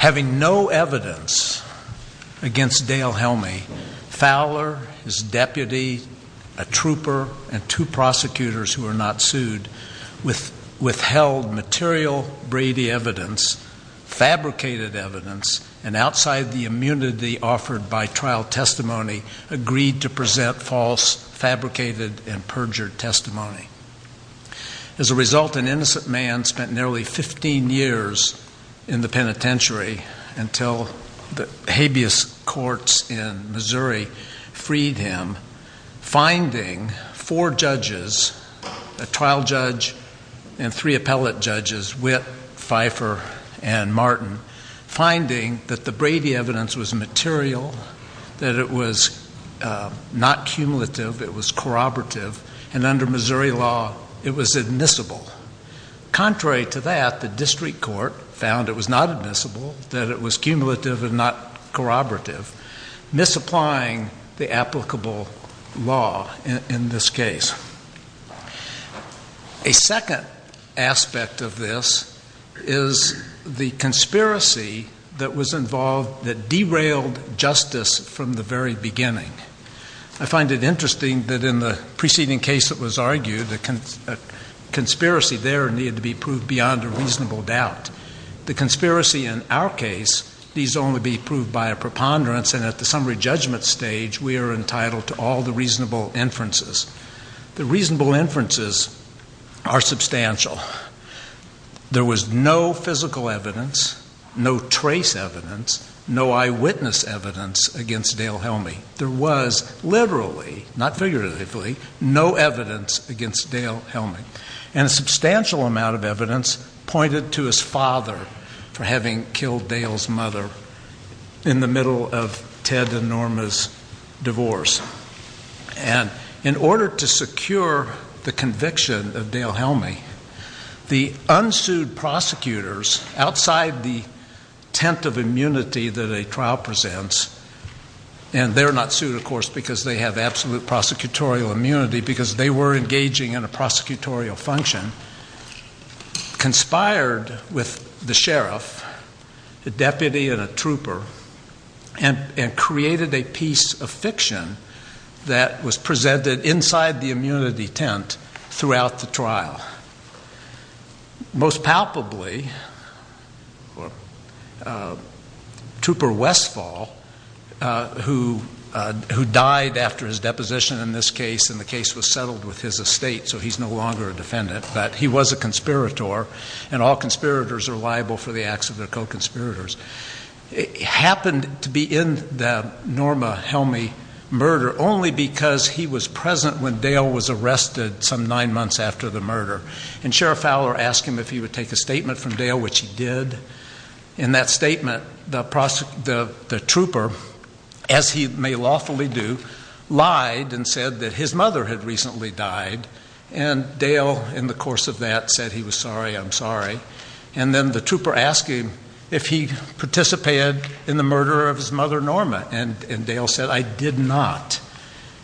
Having no evidence against Dale Helmy, Fowler, his deputy, a trooper, and two prosecutors who were not sued, withheld material Brady evidence, fabricated evidence, and outside the immunity offered by trial testimony, agreed to present false, fabricated, and perjured testimony. As a result, an innocent man spent nearly 15 years in the penitentiary until the habeas courts in Missouri freed him, finding four judges, a trial judge and three appellate judges, Witt, Pfeiffer, and Martin, finding that the Brady evidence was material, that it was not cumulative, it was corroborative, and under Missouri law, it was admissible. Contrary to that, the district court found it was not admissible, that it was cumulative and not corroborative, misapplying the applicable law in this case. A second aspect of this is the conspiracy that was involved that derailed justice from the very beginning. I find it interesting that in the preceding case that was argued, the conspiracy there needed to be proved beyond a reasonable doubt. The conspiracy in our case needs only be proved by a preponderance, and at the summary judgment stage, we are entitled to all the reasonable inferences. The reasonable inferences are substantial. There was no physical evidence, no trace evidence, no eyewitness evidence against Dale Helmy. There was literally, not figuratively, no evidence against Dale Helmy, and a substantial amount of evidence pointed to his father for having killed Dale's mother in the middle of Ted and Norma's divorce. And in order to secure the conviction of Dale Helmy, the unsued prosecutors outside the tent of immunity that a trial presents, and they're not sued, of course, because they have absolute prosecutorial immunity because they were engaging in a prosecutorial function, conspired with the sheriff, a deputy and a trooper, and created a piece of fiction that was presented inside the immunity tent throughout the trial. Most palpably, Trooper Westfall, who died after his deposition in this case, and the case was settled with his estate, so he's no longer a defendant, but he was a conspirator, and all conspirators are liable for the acts of their co-conspirators. It happened to be in the Norma Helmy murder only because he was present when Dale was arrested some nine months after the murder. And Sheriff Fowler asked him if he would take a statement from Dale, which he did. In that statement, the trooper, as he may lawfully do, lied and said that his mother had recently died, and Dale, in the course of that, said he was sorry, I'm sorry. And then the trooper asked him if he participated in the murder of his mother Norma, and Dale said, I did not.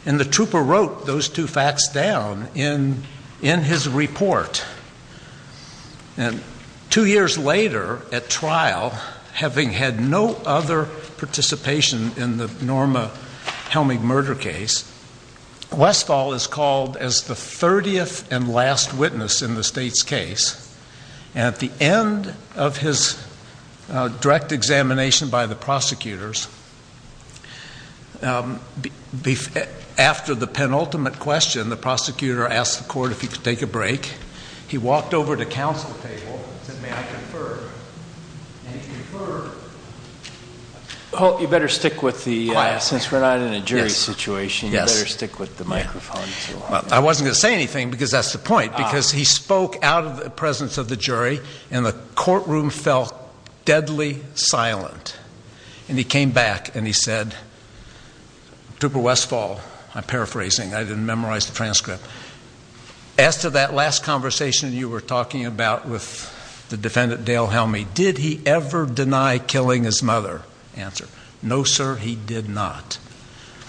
And the trooper wrote those two facts down in his report. And two years later at trial, having had no other participation in the Norma Helmy murder case, Westfall is called as the 30th and last witness in the state's case, and at the end of his direct examination by the prosecutors, after the penultimate question, the prosecutor asked the court if he could take a break. He walked over to counsel table and said, may I confer? And he conferred. Holt, you better stick with the, since we're not in a jury situation, you better stick with the microphone. I wasn't going to say anything because that's the point, because he spoke out of the presence of the jury, and the courtroom felt deadly silent. And he came back and he said, Trooper Westfall, I'm paraphrasing, I didn't memorize the transcript, as to that last conversation you were talking about with the defendant Dale Helmy, did he ever deny killing his mother? Answer, no, sir, he did not.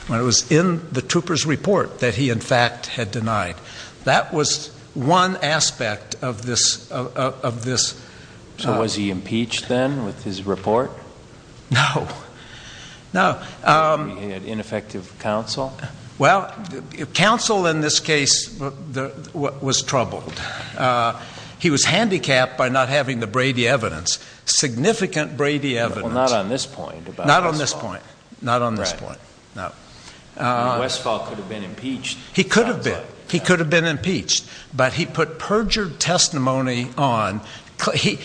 It was in the trooper's report that he in fact had denied. That was one aspect of this. So was he impeached then with his report? No, no. He had ineffective counsel? Well, counsel in this case was troubled. He was handicapped by not having the Brady evidence, significant Brady evidence. Well, not on this point. Not on this point. Not on this point, no. Westfall could have been impeached. He could have been. He could have been impeached. But he put perjured testimony on. In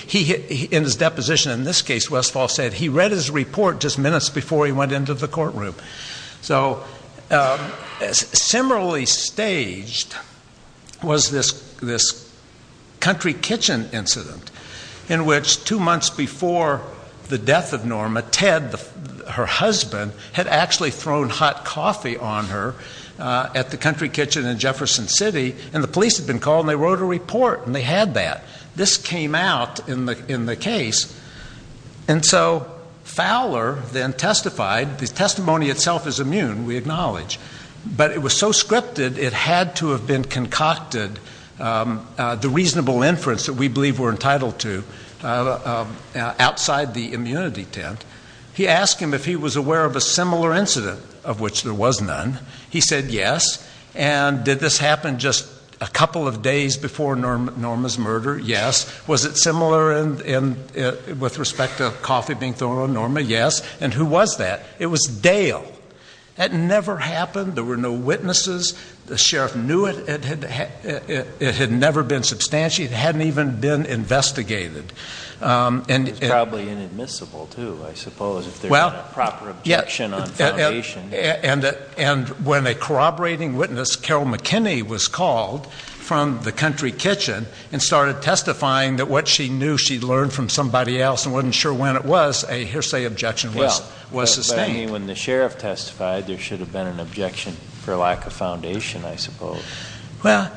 his deposition in this case, Westfall said he read his report just minutes before he went into the courtroom. So similarly staged was this country kitchen incident in which two months before the death of Norma, Ted, her husband, had actually thrown hot coffee on her at the country kitchen in Jefferson City, and the police had been called, and they wrote a report, and they had that. This came out in the case. And so Fowler then testified. The testimony itself is immune, we acknowledge. But it was so scripted it had to have been concocted, the reasonable inference that we believe we're entitled to, outside the immunity tent. He asked him if he was aware of a similar incident, of which there was none. He said yes. And did this happen just a couple of days before Norma's murder? Yes. Was it similar with respect to coffee being thrown on Norma? Yes. And who was that? It was Dale. That never happened. There were no witnesses. The sheriff knew it. It had never been substantiated. It hadn't even been investigated. It was probably inadmissible, too, I suppose, if there's not a proper objection on foundation. And when a corroborating witness, Carol McKinney, was called from the country kitchen and started testifying that what she knew she'd learned from somebody else and wasn't sure when it was, a hearsay objection was sustained. When the sheriff testified, there should have been an objection for lack of foundation, I suppose. Well,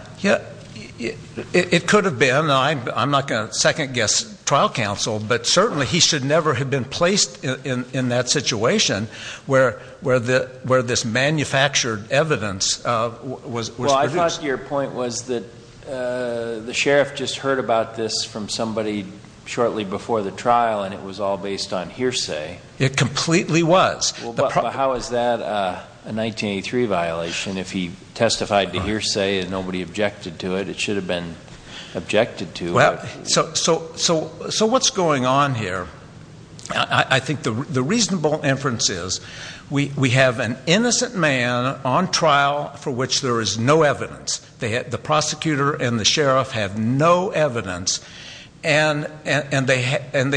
it could have been. I'm not going to second-guess trial counsel, but certainly he should never have been placed in that situation where this manufactured evidence was produced. Well, I thought your point was that the sheriff just heard about this from somebody shortly before the trial, and it was all based on hearsay. It completely was. How is that a 1983 violation if he testified to hearsay and nobody objected to it? It should have been objected to. So what's going on here? I think the reasonable inference is we have an innocent man on trial for which there is no evidence. The prosecutor and the sheriff have no evidence, and they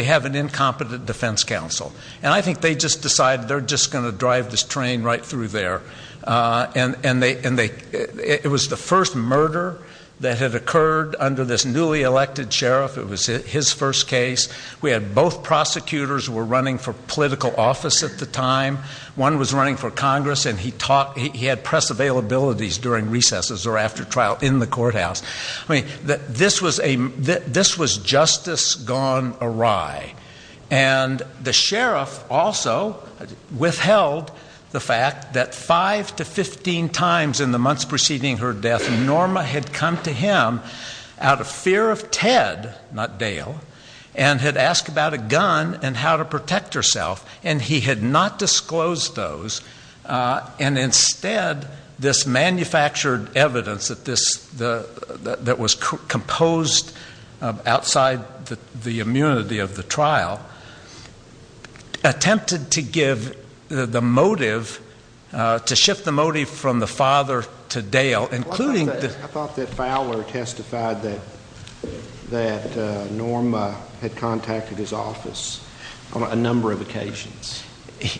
have an incompetent defense counsel. And I think they just decided they're just going to drive this train right through there. And it was the first murder that had occurred under this newly elected sheriff. It was his first case. We had both prosecutors who were running for political office at the time. One was running for Congress, and he had press availabilities during recesses or after trial in the courthouse. I mean, this was justice gone awry. And the sheriff also withheld the fact that five to 15 times in the months preceding her death, Norma had come to him out of fear of Ted, not Dale, and had asked about a gun and how to protect herself. And he had not disclosed those. And instead, this manufactured evidence that was composed outside the immunity of the trial attempted to give the motive, to shift the motive from the father to Dale. I thought that Fowler testified that Norma had contacted his office on a number of occasions.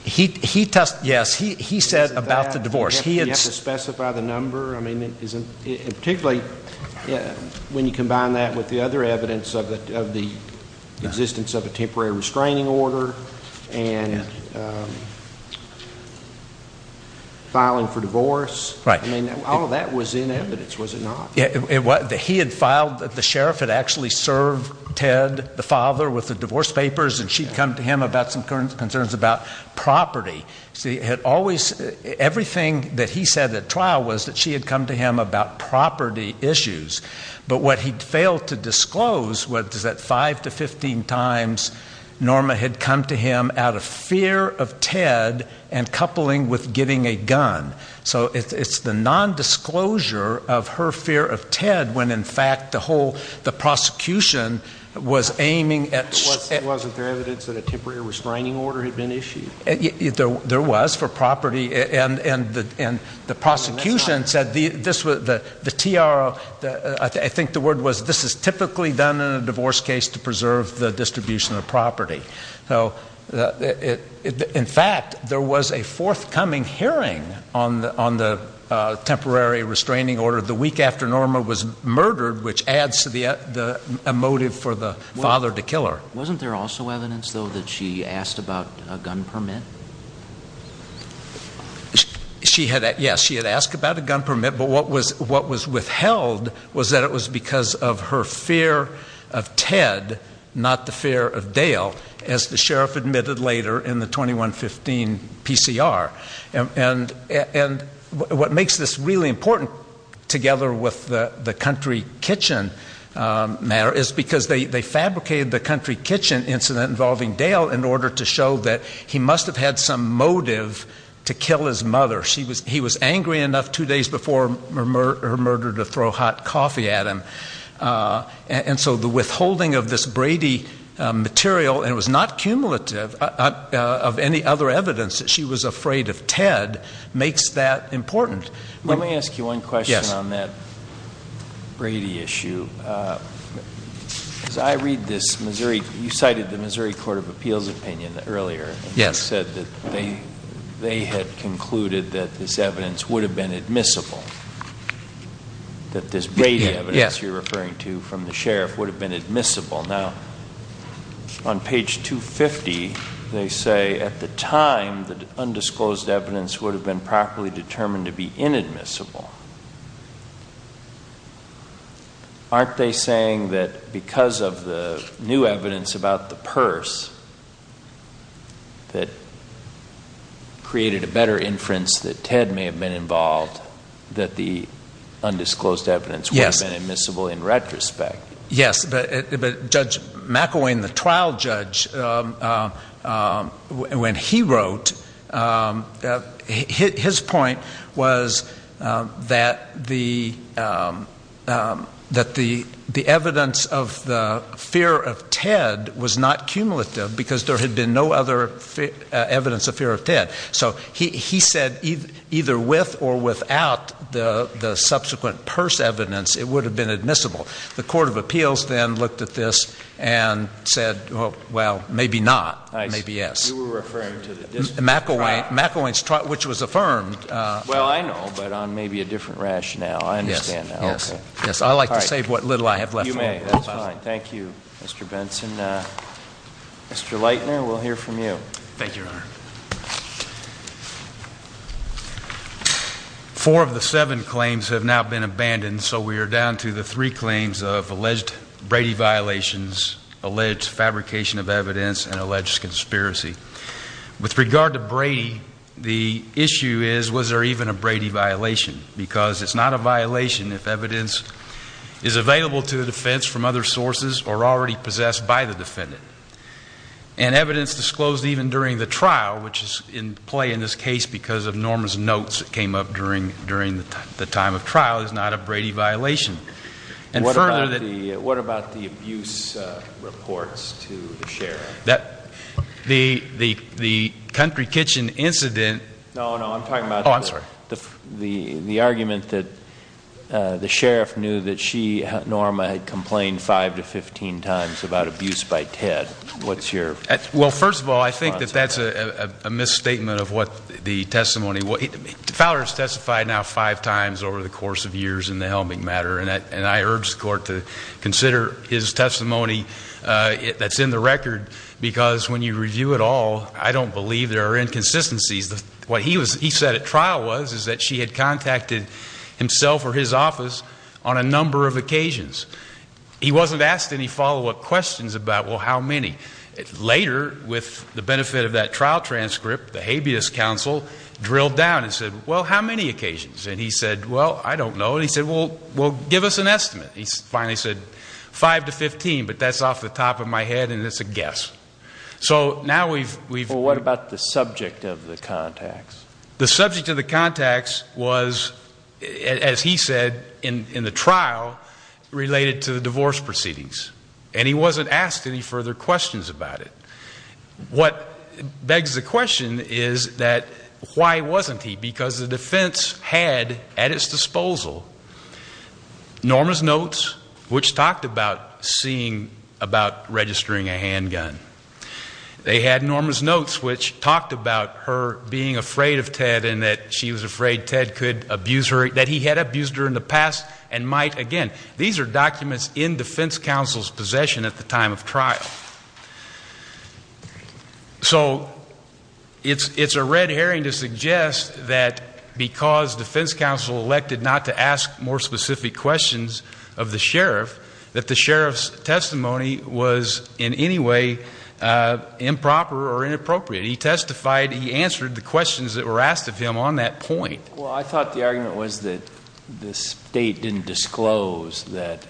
Yes, he said about the divorce. He had to specify the number. I mean, particularly when you combine that with the other evidence of the existence of a temporary restraining order and filing for divorce. I mean, all of that was in evidence, was it not? He had filed that the sheriff had actually served Ted, the father, with the divorce papers, and she had come to him about some concerns about property. Everything that he said at trial was that she had come to him about property issues. But what he failed to disclose was that five to 15 times Norma had come to him out of fear of Ted and coupling with getting a gun. So it's the nondisclosure of her fear of Ted when, in fact, the whole prosecution was aiming at... Wasn't there evidence that a temporary restraining order had been issued? There was for property. And the prosecution said the TRO, I think the word was this is typically done in a divorce case to preserve the distribution of property. In fact, there was a forthcoming hearing on the temporary restraining order the week after Norma was murdered, which adds to the motive for the father to kill her. Wasn't there also evidence, though, that she asked about a gun permit? Yes, she had asked about a gun permit, but what was withheld was that it was because of her fear of Ted, not the fear of Dale, as the sheriff admitted later in the 2115 PCR. And what makes this really important together with the country kitchen matter is because they fabricated the country kitchen incident involving Dale in order to show that he must have had some motive to kill his mother. He was angry enough two days before her murder to throw hot coffee at him. And so the withholding of this Brady material, and it was not cumulative, of any other evidence that she was afraid of Ted makes that important. Let me ask you one question on that Brady issue. As I read this, you cited the Missouri Court of Appeals opinion earlier. Yes. You said that they had concluded that this evidence would have been admissible, that this Brady evidence you're referring to from the sheriff would have been admissible. Now, on page 250, they say at the time, the undisclosed evidence would have been properly determined to be inadmissible. Aren't they saying that because of the new evidence about the purse that created a better inference that Ted may have been involved, that the undisclosed evidence would have been admissible in retrospect? Yes. But Judge McElwain, the trial judge, when he wrote, his point was that the evidence of the fear of Ted was not cumulative because there had been no other evidence of fear of Ted. So he said either with or without the subsequent purse evidence, it would have been admissible. The Court of Appeals then looked at this and said, well, maybe not. Maybe yes. You were referring to the district trial. McElwain's trial, which was affirmed. Well, I know, but on maybe a different rationale. I understand now. Yes. Yes. I like to save what little I have left. You may. That's fine. Mr. Leitner, we'll hear from you. Thank you, Your Honor. Four of the seven claims have now been abandoned, so we are down to the three claims of alleged Brady violations, alleged fabrication of evidence, and alleged conspiracy. With regard to Brady, the issue is, was there even a Brady violation? Because it's not a violation if evidence is available to the defense from other sources or already possessed by the defendant. And evidence disclosed even during the trial, which is in play in this case because of Norma's notes that came up during the time of trial, is not a Brady violation. What about the abuse reports to the sheriff? The Country Kitchen incident. No, no, I'm talking about the argument that the sheriff knew that she, Norma, had complained five to 15 times about abuse by Ted. Well, first of all, I think that that's a misstatement of what the testimony was. Fowler has testified now five times over the course of years in the helming matter, and I urge the Court to consider his testimony that's in the record, because when you review it all, I don't believe there are inconsistencies. What he said at trial was that she had contacted himself or his office on a number of occasions. He wasn't asked any follow-up questions about, well, how many. Later, with the benefit of that trial transcript, the habeas counsel drilled down and said, well, how many occasions? And he said, well, I don't know. And he said, well, give us an estimate. He finally said five to 15, but that's off the top of my head and it's a guess. So now we've ‑‑ Well, what about the subject of the contacts? The subject of the contacts was, as he said in the trial, related to the divorce proceedings. And he wasn't asked any further questions about it. What begs the question is that why wasn't he? Because the defense had at its disposal Norma's notes which talked about seeing about registering a handgun. They had Norma's notes which talked about her being afraid of Ted and that she was afraid Ted could abuse her, that he had abused her in the past and might again. These are documents in defense counsel's possession at the time of trial. So it's a red herring to suggest that because defense counsel elected not to ask more specific questions of the sheriff, that the sheriff's testimony was in any way improper or inappropriate. He testified, he answered the questions that were asked of him on that point. Well, I thought the argument was that the state didn't disclose that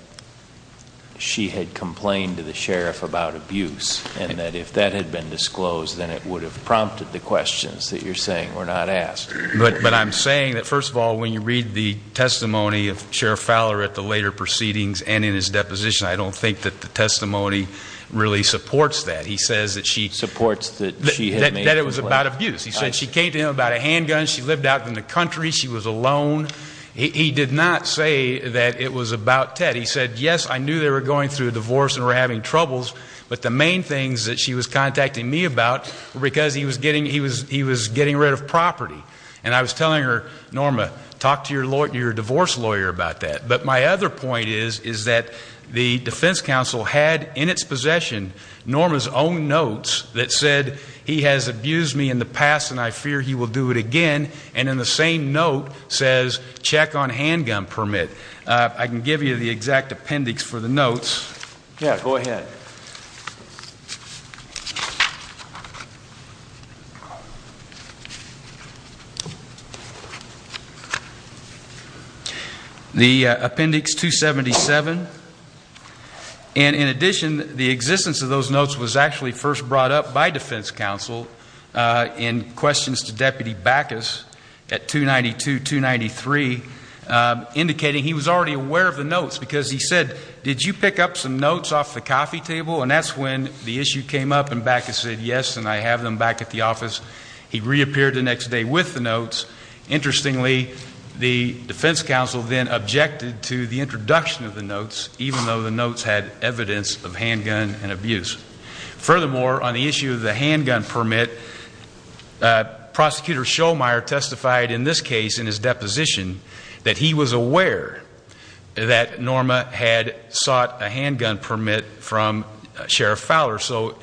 she had complained to the sheriff about abuse and that if that had been disclosed, then it would have prompted the questions that you're saying were not asked. But I'm saying that, first of all, when you read the testimony of Sheriff Fowler at the later proceedings and in his deposition, I don't think that the testimony really supports that. He says that she – Supports that she – That it was about abuse. He said she came to him about a handgun. She lived out in the country. She was alone. He did not say that it was about Ted. He said, yes, I knew they were going through a divorce and were having troubles, but the main things that she was contacting me about were because he was getting rid of property. And I was telling her, Norma, talk to your divorce lawyer about that. But my other point is that the defense counsel had in its possession Norma's own notes that said, he has abused me in the past and I fear he will do it again, and in the same note says, check on handgun permit. I can give you the exact appendix for the notes. Yeah, go ahead. The appendix 277, and in addition, the existence of those notes was actually first brought up by defense counsel in questions to Deputy Backus at 292-293, indicating he was already aware of the notes because he said, did you pick up some notes off the coffee table? And that's when the issue came up and Backus said, yes, and I have them back at the office. He reappeared the next day with the notes. Interestingly, the defense counsel then objected to the introduction of the notes, even though the notes had evidence of handgun and abuse. Furthermore, on the issue of the handgun permit, Prosecutor Schoemeier testified in this case in his deposition that he was aware that Norma had sought a handgun permit from Sheriff Fowler. So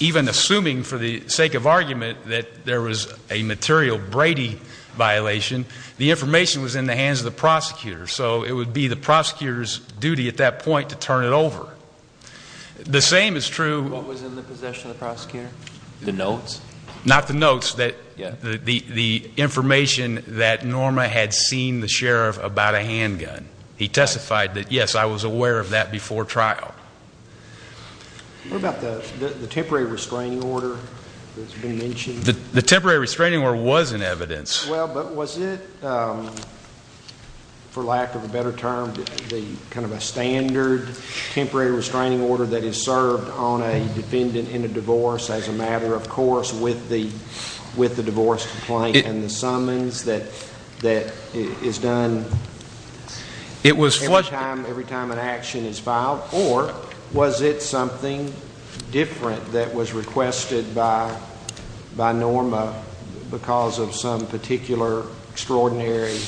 even assuming for the sake of argument that there was a material Brady violation, the information was in the hands of the prosecutor. So it would be the prosecutor's duty at that point to turn it over. The same is true. What was in the possession of the prosecutor? The notes? Not the notes. The information that Norma had seen the sheriff about a handgun. He testified that, yes, I was aware of that before trial. What about the temporary restraining order that's been mentioned? The temporary restraining order was in evidence. Well, but was it, for lack of a better term, kind of a standard temporary restraining order that is served on a defendant in a divorce as a matter of course with the divorce complaint and the summons that is done every time an action is filed? Or was it something different that was requested by Norma because of some particular extraordinary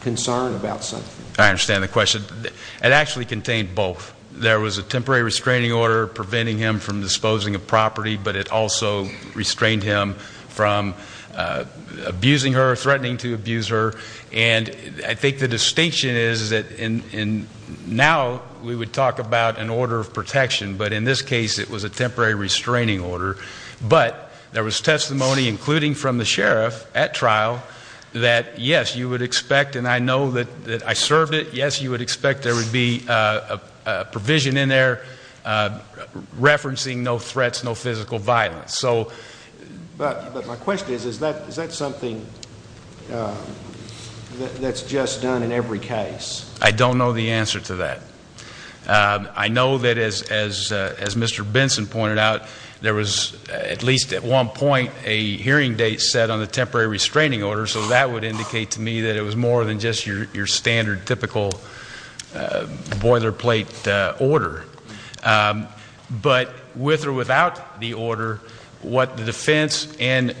concern about something? I understand the question. It actually contained both. There was a temporary restraining order preventing him from disposing of property, but it also restrained him from abusing her, threatening to abuse her. And I think the distinction is that now we would talk about an order of protection, but in this case it was a temporary restraining order. But there was testimony, including from the sheriff at trial, that, yes, you would expect, and I know that I served it, yes, you would expect there would be a provision in there referencing no threats, no physical violence. But my question is, is that something that's just done in every case? I don't know the answer to that. I know that, as Mr. Benson pointed out, there was at least at one point a hearing date set on the temporary restraining order, so that would indicate to me that it was more than just your standard, typical boilerplate order. But with or without the order, what the defense and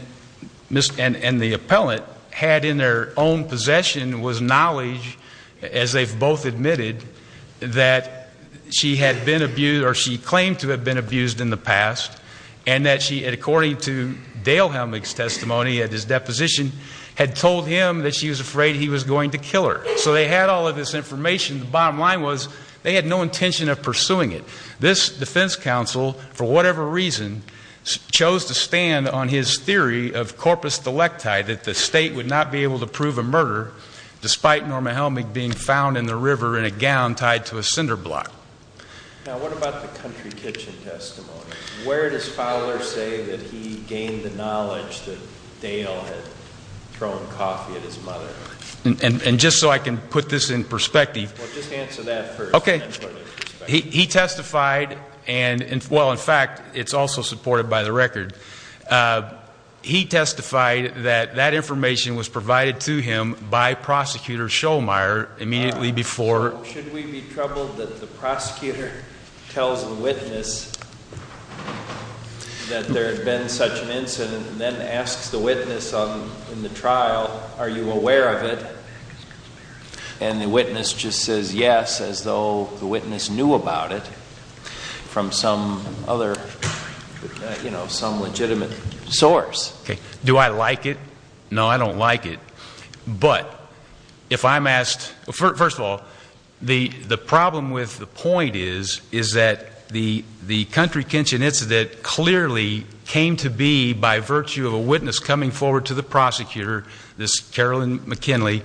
the appellant had in their own possession was knowledge, as they've both admitted, that she had been abused or she claimed to have been abused in the past and that she, according to Dale Helmick's testimony at his deposition, had told him that she was afraid he was going to kill her. So they had all of this information. The bottom line was they had no intention of pursuing it. This defense counsel, for whatever reason, chose to stand on his theory of corpus delicti, that the state would not be able to prove a murder, despite Norma Helmick being found in the river in a gown tied to a cinder block. Now, what about the country kitchen testimony? Where does Fowler say that he gained the knowledge that Dale had thrown coffee at his mother? And just so I can put this in perspective. Well, just answer that first. Okay. He testified and, well, in fact, it's also supported by the record. He testified that that information was provided to him by Prosecutor Schollmeier immediately before. Should we be troubled that the prosecutor tells the witness that there had been such an incident and then asks the witness in the trial, are you aware of it? And the witness just says yes as though the witness knew about it from some other, you know, some legitimate source. Okay. Do I like it? No, I don't like it. But if I'm asked, first of all, the problem with the point is, is that the country kitchen incident clearly came to be by virtue of a witness coming forward to the prosecutor, this Carolyn McKinley,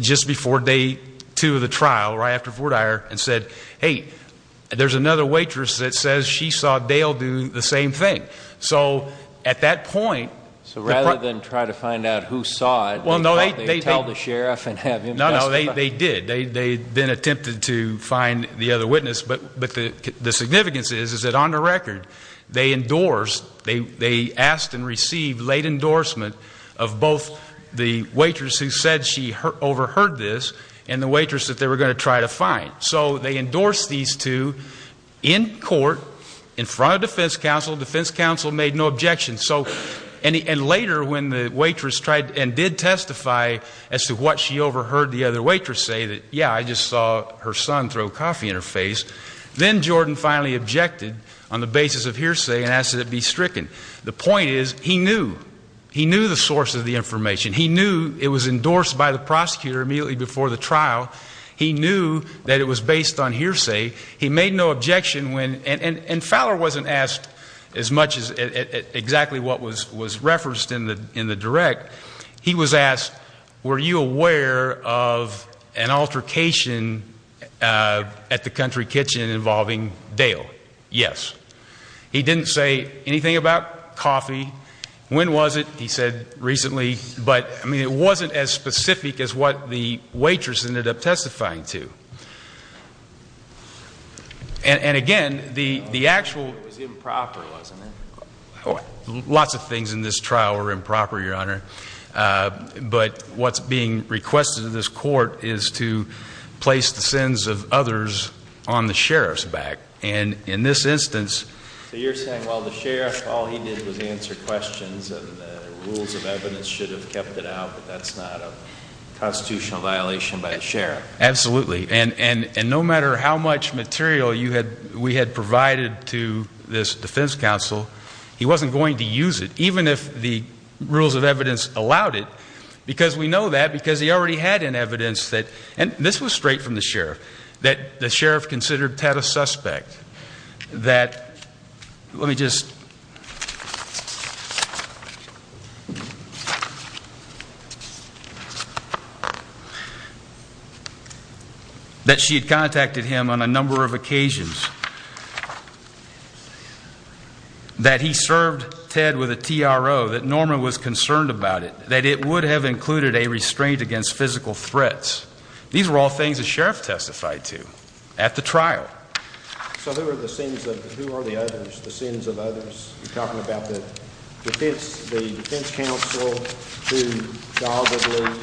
just before day two of the trial, right after Vortire, and said, hey, there's another waitress that says she saw Dale do the same thing. So at that point. So rather than try to find out who saw it. Well, no. They tell the sheriff and have him testify. No, no. They did. They then attempted to find the other witness. But the significance is, is that on the record, they endorsed, they asked and received late endorsement of both the waitress who said she overheard this and the waitress that they were going to try to find. So they endorsed these two in court in front of defense counsel. Defense counsel made no objections. And later, when the waitress tried and did testify as to what she overheard the other waitress say, that, yeah, I just saw her son throw coffee in her face, then Jordan finally objected on the basis of hearsay and asked that it be stricken. The point is, he knew. He knew the source of the information. He knew it was endorsed by the prosecutor immediately before the trial. He knew that it was based on hearsay. He made no objection when, and Fowler wasn't asked as much as exactly what was referenced in the direct. He was asked, were you aware of an altercation at the country kitchen involving Dale? Yes. He didn't say anything about coffee. When was it? But, I mean, it wasn't as specific as what the waitress ended up testifying to. And, again, the actual. It was improper, wasn't it? Lots of things in this trial were improper, Your Honor. But what's being requested of this court is to place the sins of others on the sheriff's back. And in this instance. So you're saying, well, the sheriff, all he did was answer questions, and the rules of evidence should have kept it out, but that's not a constitutional violation by the sheriff. Absolutely. And no matter how much material we had provided to this defense counsel, he wasn't going to use it, even if the rules of evidence allowed it. Because we know that, because he already had an evidence that, and this was straight from the sheriff, that the sheriff considered Ted a suspect. That, let me just. That she had contacted him on a number of occasions. That he served Ted with a TRO. That Norman was concerned about it. That it would have included a restraint against physical threats. These were all things the sheriff testified to at the trial. So who are the sins of, who are the others, the sins of others? You're talking about the defense, the defense counsel who doggedly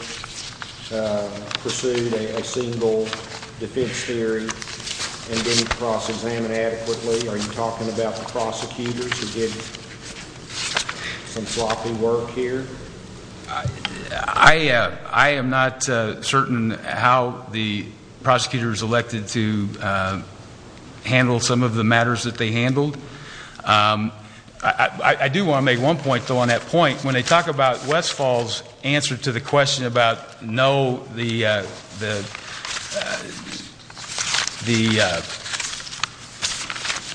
pursued a single defense hearing and didn't cross-examine adequately. Are you talking about the prosecutors who did some sloppy work here? I am not certain how the prosecutors elected to handle some of the matters that they handled. I do want to make one point, though, on that point. When they talk about Westfall's answer to the question about no, the,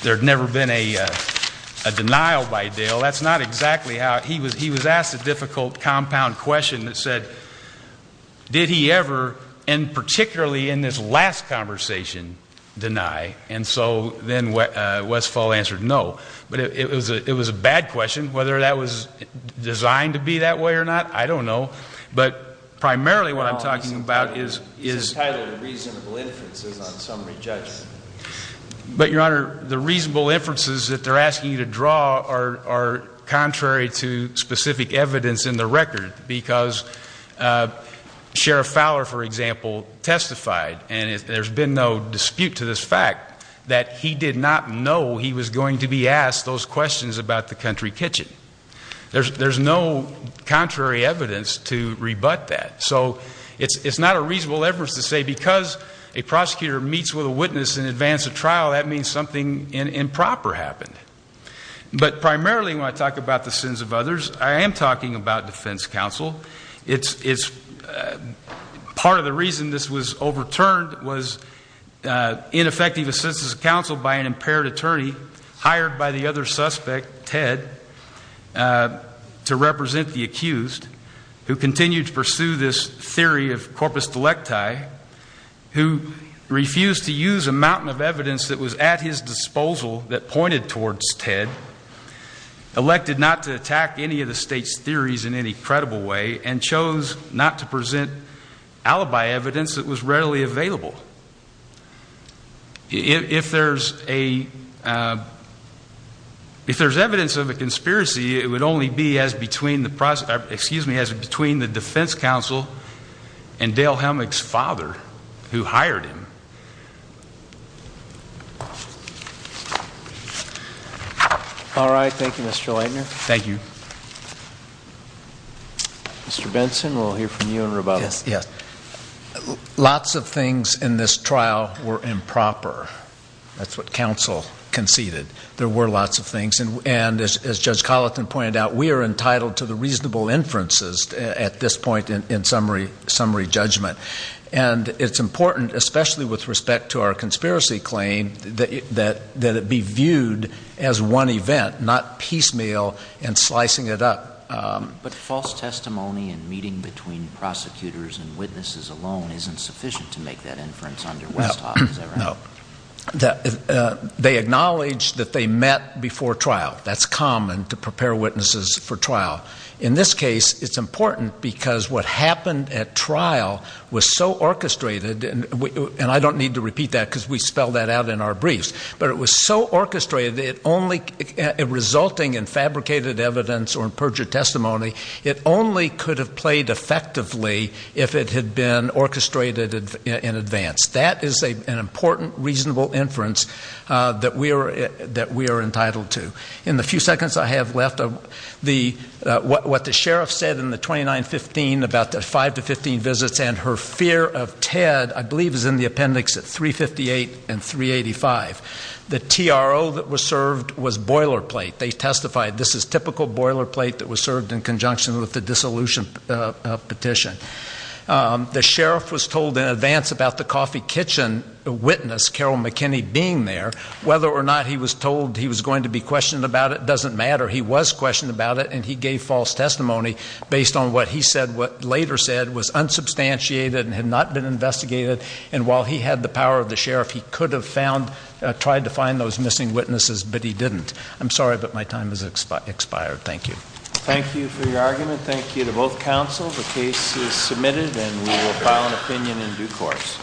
there had never been a denial by Dale. That's not exactly how, he was asked a difficult compound question that said, did he ever, and particularly in this last conversation, deny? And so then Westfall answered no. But it was a bad question. Whether that was designed to be that way or not, I don't know. But primarily what I'm talking about is. He's entitled reasonable inferences on summary judgment. But, Your Honor, the reasonable inferences that they're asking you to draw are contrary to specific evidence in the record because Sheriff Fowler, for example, testified, and there's been no dispute to this fact, that he did not know he was going to be asked those questions about the country kitchen. There's no contrary evidence to rebut that. So it's not a reasonable evidence to say because a prosecutor meets with a witness in advance of trial, that means something improper happened. But primarily when I talk about the sins of others, I am talking about defense counsel. Part of the reason this was overturned was ineffective assistance of counsel by an impaired attorney hired by the other suspect, Ted, to represent the accused, who continued to pursue this theory of corpus delicti, who refused to use a mountain of evidence that was at his disposal that pointed towards Ted, elected not to attack any of the state's theories in any credible way, and chose not to present alibi evidence that was readily available. If there's evidence of a conspiracy, it would only be as between the defense counsel and Dale Helmick's father, who hired him. All right. Thank you, Mr. Leitner. Thank you. Mr. Benson, we'll hear from you in rebuttal. Yes. Lots of things in this trial were improper. That's what counsel conceded. There were lots of things. And as Judge Colleton pointed out, we are entitled to the reasonable inferences at this point in summary judgment. And it's important, especially with respect to our conspiracy claim, that it be viewed as one event, not piecemeal and slicing it up. But false testimony and meeting between prosecutors and witnesses alone isn't sufficient to make that inference under Westhoff, is that right? No. They acknowledge that they met before trial. That's common to prepare witnesses for trial. In this case, it's important because what happened at trial was so orchestrated, and I don't need to repeat that because we spelled that out in our briefs, but it was so orchestrated, resulting in fabricated evidence or perjured testimony, it only could have played effectively if it had been orchestrated in advance. That is an important, reasonable inference that we are entitled to. In the few seconds I have left, what the sheriff said in the 29-15, about the 5-15 visits, and her fear of Ted, I believe is in the appendix at 358 and 385. The TRO that was served was boilerplate. They testified this is typical boilerplate that was served in conjunction with the dissolution petition. The sheriff was told in advance about the coffee kitchen witness, Carol McKinney, being there. Whether or not he was told he was going to be questioned about it doesn't matter. He was questioned about it, and he gave false testimony based on what he said, what later said was unsubstantiated and had not been investigated. And while he had the power of the sheriff, he could have tried to find those missing witnesses, but he didn't. I'm sorry, but my time has expired. Thank you. Thank you for your argument. Thank you to both counsel. The case is submitted, and we will file an opinion in due course.